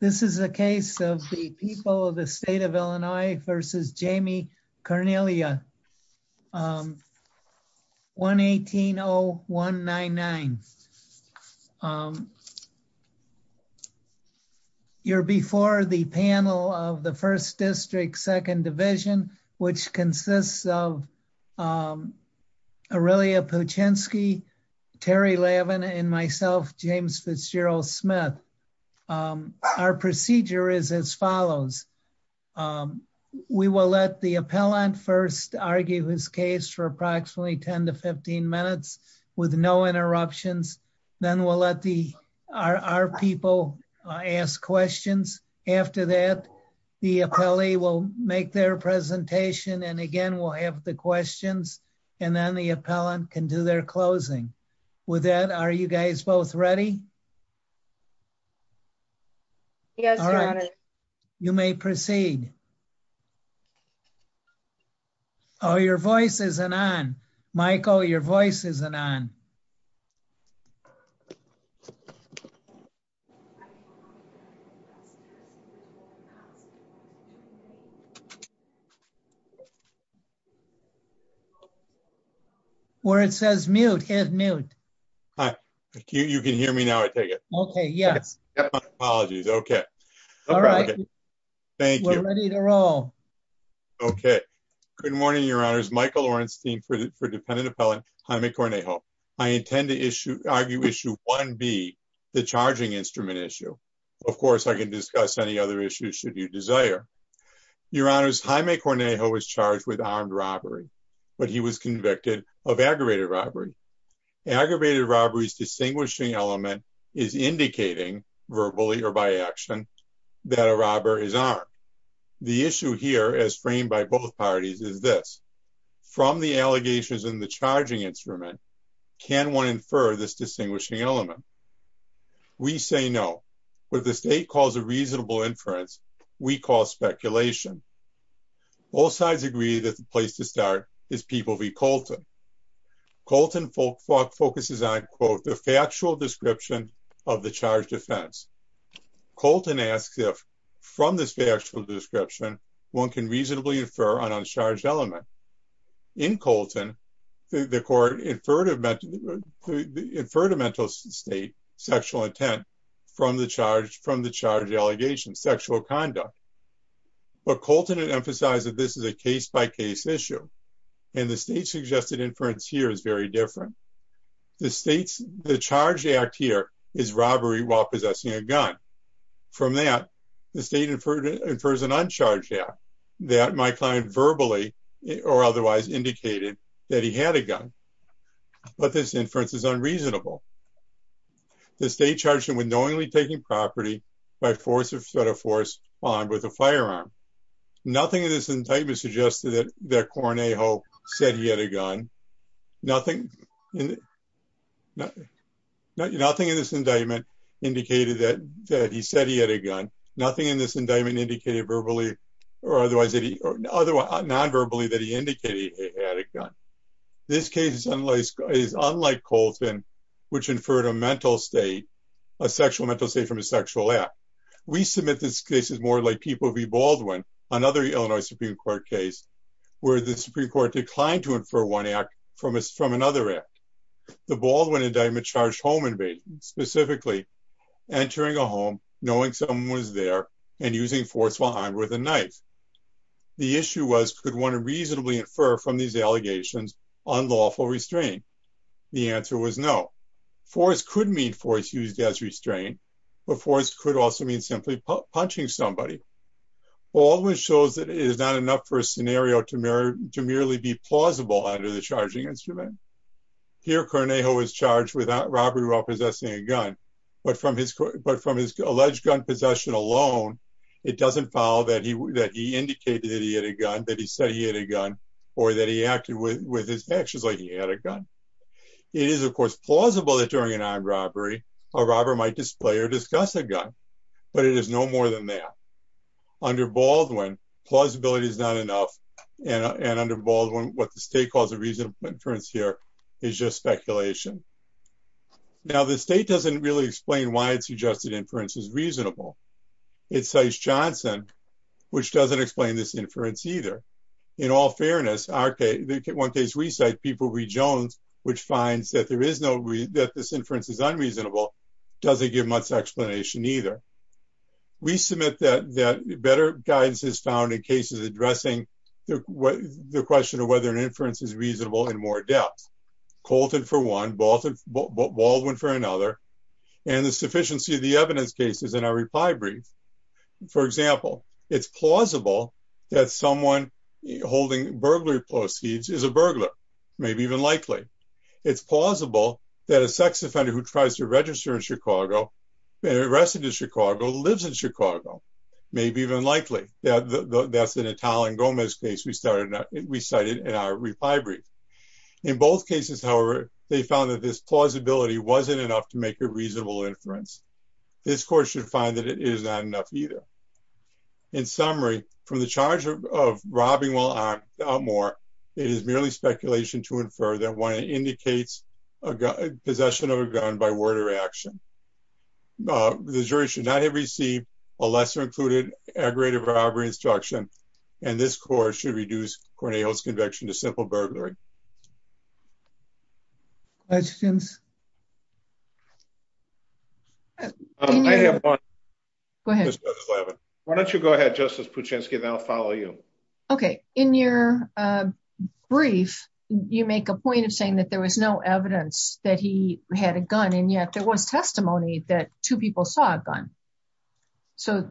This is a case of the people of the state of Illinois versus Jamie Cornelia. 1-18-0199. You're before the panel of the first district second division which consists of our procedure is as follows. We will let the appellant first argue his case for approximately 10-15 minutes with no interruptions. Then we'll let our people ask questions. After that, the appellee will make their presentation and again we'll have the questions and then the appellant can do their closing. With that, are you guys both ready? Yes. All right. You may proceed. Oh, your voice isn't on. Michael, your voice isn't on. Where it says mute, hit mute. Hi. You can hear me now. I take it. Okay. Yes. Apologies. Okay. All right. Thank you. Okay. Good morning, your honors. Michael Orenstein for dependent appellant Jaime Cornejo. I intend to argue issue 1B, the charging instrument issue. Of course, I can discuss any other issues should you desire. Your honors, Jaime Cornejo was charged with armed robbery, but he was convicted of aggravated robbery. Aggravated robbery's distinguishing element is indicating verbally or by action that a robber is armed. The issue here as framed by both parties is this. From the allegations in the charging instrument, can one infer this distinguishing element? We say no. What the state calls a reasonable inference, we call speculation. Both sides agree that the place to start is people v. Colton. Colton focuses on, quote, the factual description of the charged offense. Colton asks if from this factual description, one can reasonably infer an uncharged element. In Colton, the court inferred a mental state, sexual intent, from the charged allegation, sexual conduct. But Colton emphasizes this is a case-by-case issue. And the state suggested inference here is very different. The state's charged act here is robbery while possessing a gun. From that, the state infers an uncharged act that my client verbally or otherwise indicated that he had a gun. But this inference is unreasonable. The state charged him with knowingly taking property by force of threat or force armed with a firearm. Nothing in this indictment suggested that Cornejo said he had a gun. Nothing in this indictment indicated that he said he had a gun. Nothing in this indictment indicated verbally or otherwise nonverbally that he indicated he had a gun. This case is unlike Colton, which inferred a mental state, a sexual mental state from a sexual act. We submit this case as more like people v. Baldwin, another Illinois Supreme Court case, where the Supreme Court declined to infer one act from another act. The Baldwin indictment charged home invading, specifically entering a home, knowing someone was there, and using force while armed with a knife. The issue was could one reasonably infer from these allegations unlawful restraint? The answer was no. Force could mean force used as restraint, but force could also mean simply punching somebody. Baldwin shows that it is not. Here, Cornejo is charged with robbery while possessing a gun, but from his alleged gun possession alone, it doesn't follow that he indicated he had a gun, that he said he had a gun, or that he acted with his actions like he had a gun. It is, of course, plausible that during an armed robbery, a robber might display or discuss a gun, but it is no more than that. Under Baldwin, plausibility is not enough, and under Baldwin, what the state calls a reasonable inference here is just speculation. Now, the state doesn't really explain why it suggested inference is reasonable. It cites Johnson, which doesn't explain this inference either. In all fairness, one case we cite, people read Jones, which finds that this inference is unreasonable, doesn't give much explanation either. We submit that better guidance is found in cases addressing the question of whether an inference is reasonable in more depth. Colton for one, Baldwin for another, and the sufficiency of the evidence cases in our reply brief. For example, it is plausible that someone holding burglary proceeds is a burglar, maybe even likely. It's plausible that a sex offender who tries to register in Chicago, arrested in Chicago, lives in Chicago, maybe even likely. That's an Italian Gomez case we cited in our reply brief. In both cases, however, they found that this plausibility wasn't enough to make a reasonable inference. This court should find that it is not enough either. In summary, from the charge of robbing while armed, it is merely speculation to infer that one indicates possession of a gun by word or action. The jury should not have received a lesser included aggravated robbery instruction, and this court should reduce Cornell's conviction to simple follow you. Okay. In your brief, you make a point of saying that there was no evidence that he had a gun, and yet there was testimony that two people saw a gun. So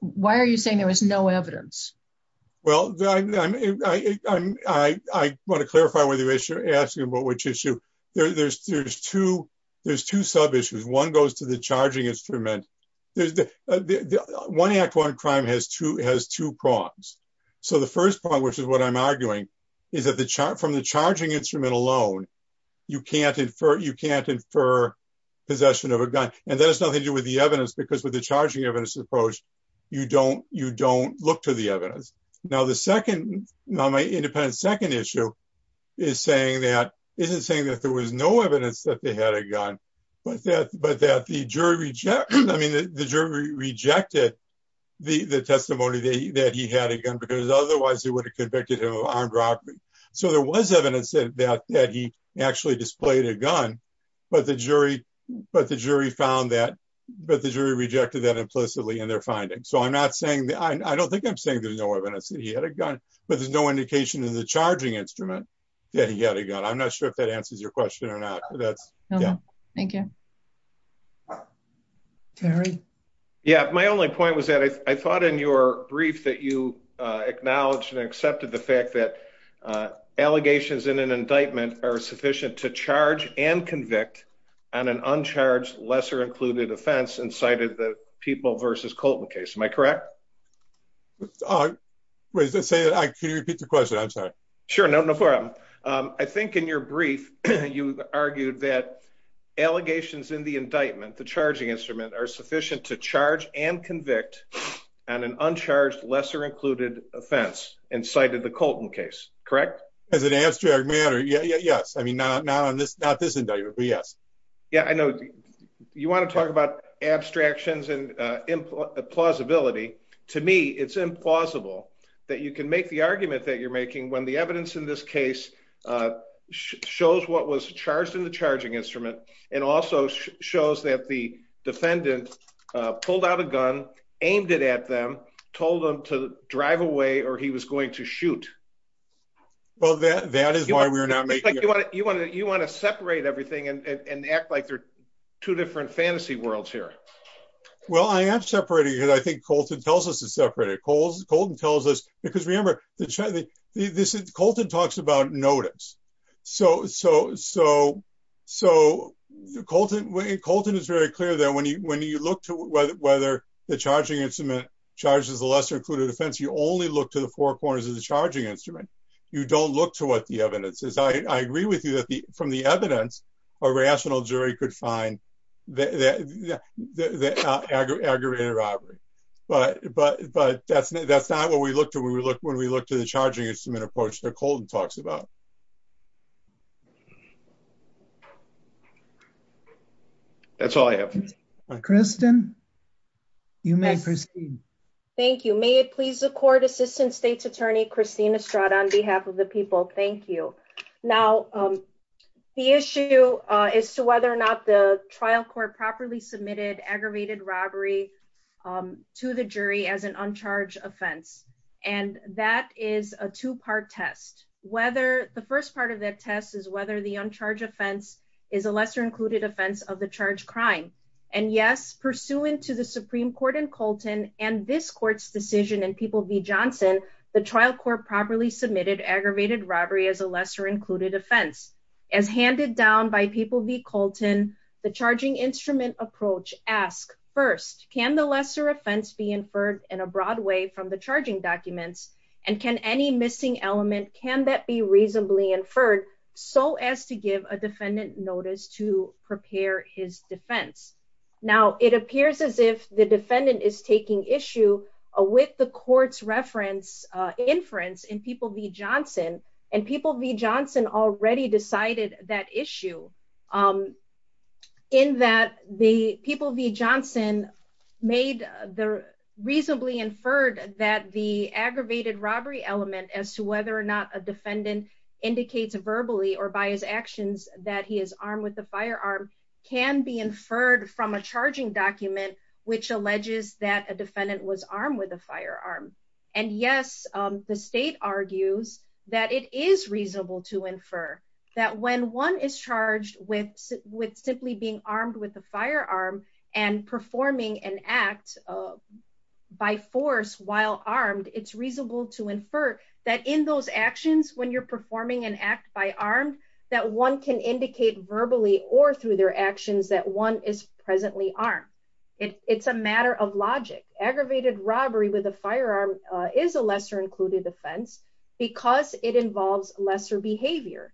why are you saying there was no evidence? Well, I want to clarify whether you're asking about which issue. There's two sub-issues. One goes to the charging instrument. The one act one crime has two prongs. The first prong, which is what I'm arguing, is that from the charging instrument alone, you can't infer possession of a gun. That has nothing to do with the evidence because with the charging evidence approach, you don't look to the evidence. Now, my independent second issue isn't saying that there was no evidence that they had a gun, but that the jury rejected the testimony that he had a gun because otherwise, they would have convicted him of armed robbery. So there was evidence that he actually displayed a gun, but the jury rejected that implicitly in their findings. So I don't think I'm saying there's no evidence that he had a gun, but there's no indication in the charging instrument that he had a gun. I'm not sure if that answers your question or not. That's, yeah. Thank you. Terry? Yeah, my only point was that I thought in your brief that you acknowledged and accepted the fact that allegations in an indictment are sufficient to charge and convict on an uncharged lesser included offense and cited the people versus Colton case. Am I correct? Wait, can you repeat the question? I'm sorry. Sure. No, no problem. I think in your brief, you argued that allegations in the indictment, the charging instrument are sufficient to charge and convict on an uncharged lesser included offense and cited the Colton case, correct? As an abstract matter, yes. I mean, not this indictment, but yes. Yeah, I know you want to talk about abstractions and implausibility. To me, it's implausible that you can make the argument that you're making when the evidence in this case shows what was charged in the charging instrument and also shows that the defendant pulled out a gun, aimed it at them, told them to drive away, or he was going to shoot. Well, that is why we're not making it. You want to separate everything and act like they're two different fantasy worlds here. Well, I am separating it. I think Colton tells us to separate it. Colton tells us because remember, Colton talks about notice. Colton is very clear that when you look to whether the charging instrument charges the lesser included offense, you only look to the four corners of the charging instrument. You don't look to what the evidence is. I agree with you that from the evidence, a rational jury could find the aggravated robbery, but that's not what when we look to the charging instrument approach that Colton talks about. That's all I have. Kristin, you may proceed. Thank you. May it please the court, Assistant State's Attorney, Christina Stroud, on behalf of the people. Thank you. Now, the issue is to whether or not the trial court properly submitted aggravated robbery to the jury as an uncharged offense. That is a two-part test. The first part of that test is whether the uncharged offense is a lesser included offense of the charge crime. Yes, pursuant to the Supreme Court and Colton and this court's decision in People v. Johnson, the trial court properly submitted aggravated robbery as a lesser included offense. As handed down by People v. Colton, the charging instrument approach asks first, can the lesser offense be inferred in a broad way from the charging documents? And can any missing element, can that be reasonably inferred so as to give a defendant notice to prepare his defense? Now, it appears as if the defendant is taking issue with the court's inference in People v. Johnson, and People v. Johnson already decided that issue in that the People v. Johnson made the reasonably inferred that the aggravated robbery element as to whether or not a defendant indicates verbally or by his actions that he is armed with a firearm can be inferred from a charging document, which alleges that a defendant was armed with a firearm. And yes, the state argues that it is reasonable to infer that when one is charged with simply being armed with a firearm and performing an act by force while armed, it's reasonable to infer that in those actions, when you're performing an act by armed, that one can indicate verbally or through their actions that one is presently armed. It's a matter of logic. Aggravated robbery with a firearm is a lesser included offense, because it involves lesser behavior.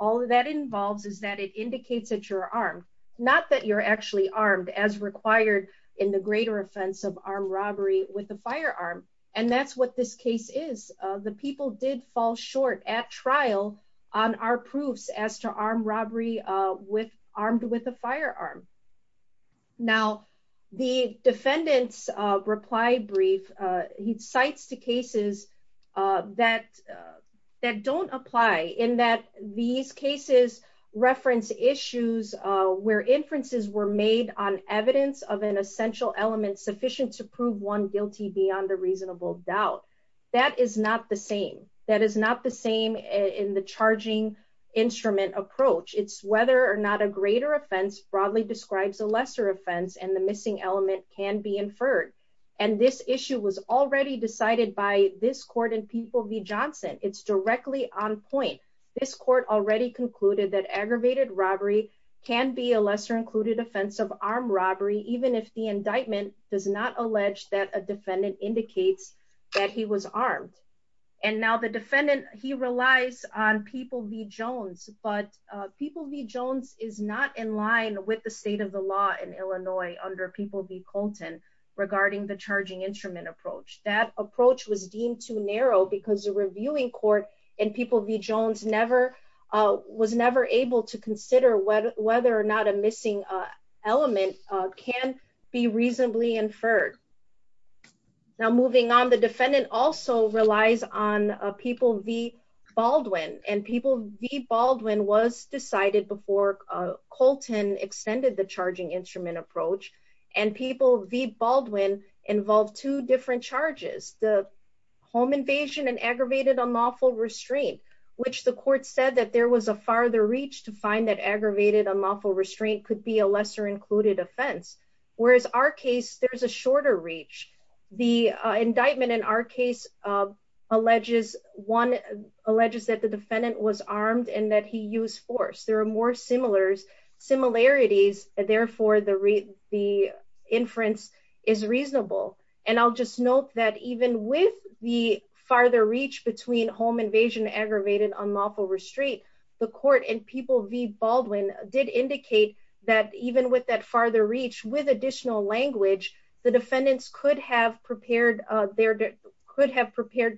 All that involves is that it indicates that you're armed, not that you're actually armed as required in the greater offense of armed robbery with a firearm. And that's what this case is. The people did fall short at trial on our proofs as to armed robbery with armed with a firearm. Now, the defendant's reply brief, he cites two cases that don't apply in that these cases reference issues where inferences were made on evidence of an essential element sufficient to prove one guilty beyond a reasonable doubt. That is not the same. That is not the same in the charging instrument approach. It's whether or not a greater offense broadly describes a lesser offense and the missing element can be inferred. And this issue was already decided by this court in people v. Johnson, it's directly on point. This court already concluded that aggravated robbery can be a lesser included offense of armed robbery, even if the indictment does not allege that a defendant indicates that he was armed. And now the defendant, he relies on people v. Jones, but people v. Jones is not in line with the state of the law in Illinois under people v. Colton regarding the charging instrument approach. That approach was deemed too narrow because the reviewing court and people v. Jones never was never able to consider whether or not a missing element can be reasonably inferred. Now, moving on, the defendant also relies on people v. Baldwin, and people v. Baldwin was decided before Colton extended the charging instrument approach. And people v. Baldwin involved two different charges, the home invasion and aggravated unlawful restraint, which the court said that there was a farther reach to find that aggravated unlawful restraint could be a lesser included offense. Whereas our case, there's a shorter reach. The indictment in our case, one alleges that the defendant was armed and that he used force. There are more similarities, and therefore the inference is reasonable. And I'll just note that even with the farther reach between home invasion aggravated unlawful restraint, the court and people v. Baldwin did indicate that even with that farther reach with additional language, the defendants could have prepared the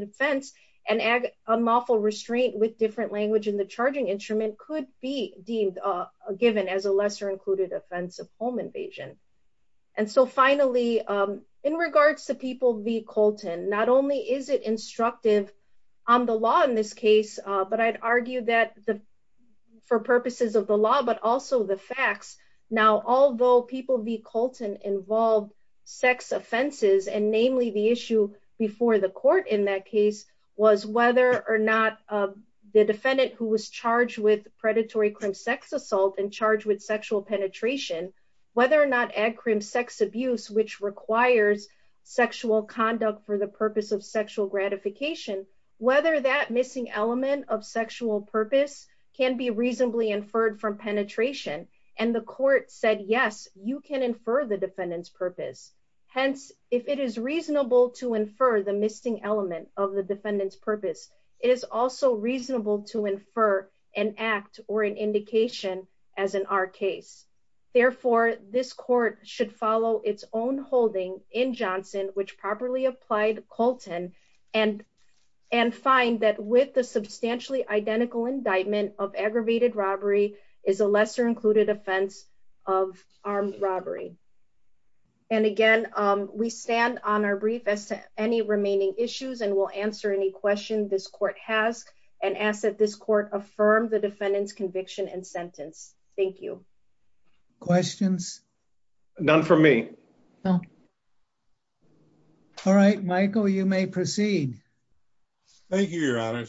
defense and unlawful restraint with different language in the charging instrument could be deemed given as a lesser included offense of home invasion. And so finally, in regards to people v. Colton, not only is it instructive on the law in this case, but I'd argue that for purposes of the law, but also the facts. Now, although people v. Colton involved sex offenses, and namely the issue before the court in that case, was whether or not the defendant who was charged with predatory crim sex assault and charged with sexual penetration, whether or not ag crim sex abuse, which requires sexual conduct for the purpose of sexual gratification, whether that missing element of sexual purpose can be reasonably inferred from penetration, and the court said, yes, you can infer the defendant's purpose. Hence, if it is reasonable to infer the missing element of the defendant's purpose, it is also reasonable to infer an act or an indication as in our case. Therefore, this court should follow its own holding in Johnson, which properly applied Colton and, and find that with the substantially identical indictment of aggravated robbery is a lesser included offense of armed robbery. And again, we stand on our brief as to any remaining issues, and we'll answer any question this court has, and ask that this court affirm the defendant's conviction and sentence. Thank you. Questions? None for me. No. All right, Michael, you may proceed. Thank you, Your Honor.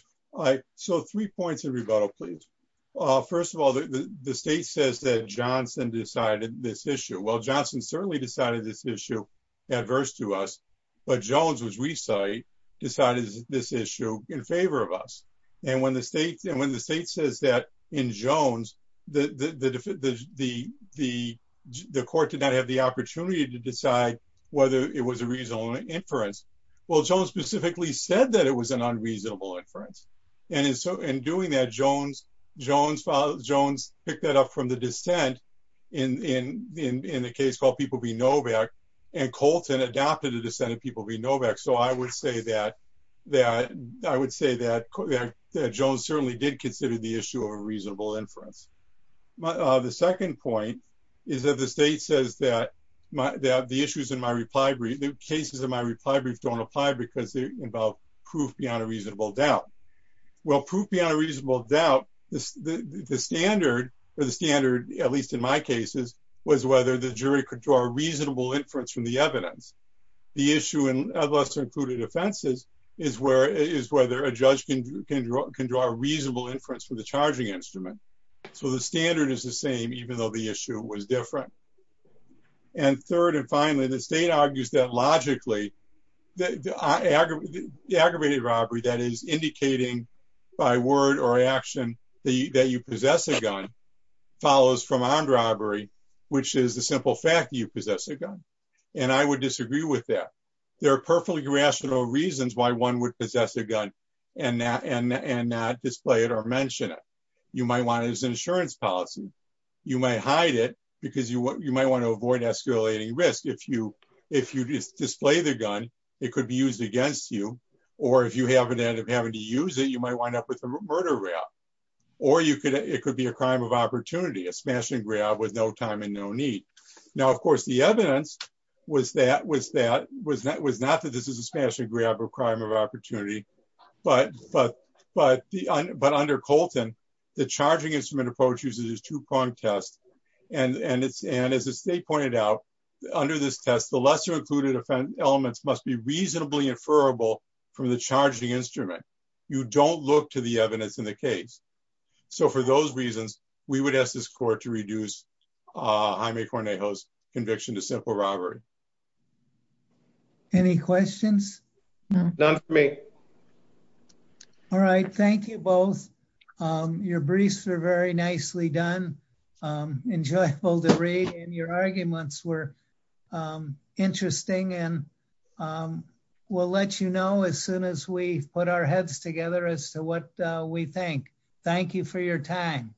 So three points of rebuttal, please. First of all, the state says that Johnson decided this issue. Well, Johnson certainly decided this issue adverse to us. But Jones, which we cite, decided this issue in favor of us. And when the state and when the decide whether it was a reasonable inference, well, Jones specifically said that it was an unreasonable inference. And so in doing that, Jones, Jones, Jones picked that up from the descent in the case called people be Novak, and Colton adopted a dissent of people be Novak. So I would say that, that I would say that Jones certainly did consider the issue of reasonable inference. But the second point is that the state says that, that the issues in my reply brief, the cases in my reply brief don't apply because they involve proof beyond a reasonable doubt. Well, proof beyond a reasonable doubt, the standard, or the standard, at least in my cases, was whether the jury could draw a reasonable inference from the evidence. The issue in lesser included offenses is where is whether a judge can can draw a reasonable inference for the charging instrument. So the standard is the same, even though the issue was different. And third, and finally, the state argues that logically, the aggravated robbery that is indicating by word or action, the day you possess a gun follows from armed robbery, which is the simple fact that you possess a gun. And I would disagree with that. There are perfectly rational reasons why one would possess a gun and not display it or mention it. You might want it as an insurance policy. You might hide it because you might want to avoid escalating risk. If you display the gun, it could be used against you. Or if you happen to end up having to use it, you might wind up with a murder rap. Or it could be a crime of opportunity, a smashing grab with no time and no need. Now, of course, the evidence was that, was not that this is a smashing grab or crime of opportunity. But under Colton, the charging instrument approach uses two-pronged test. And as the state pointed out, under this test, the lesser included offense elements must be reasonably inferable from the charging instrument. You don't look to the evidence in the case. So for those reasons, we would ask this court to reduce Jaime Cornejo's conviction to simple robbery. Any questions? None for me. All right. Thank you both. Your briefs are very nicely done. Enjoyable to read. And your arguments were interesting. And we'll let you know as soon as we put our heads together as to what we think. Thank you for your time.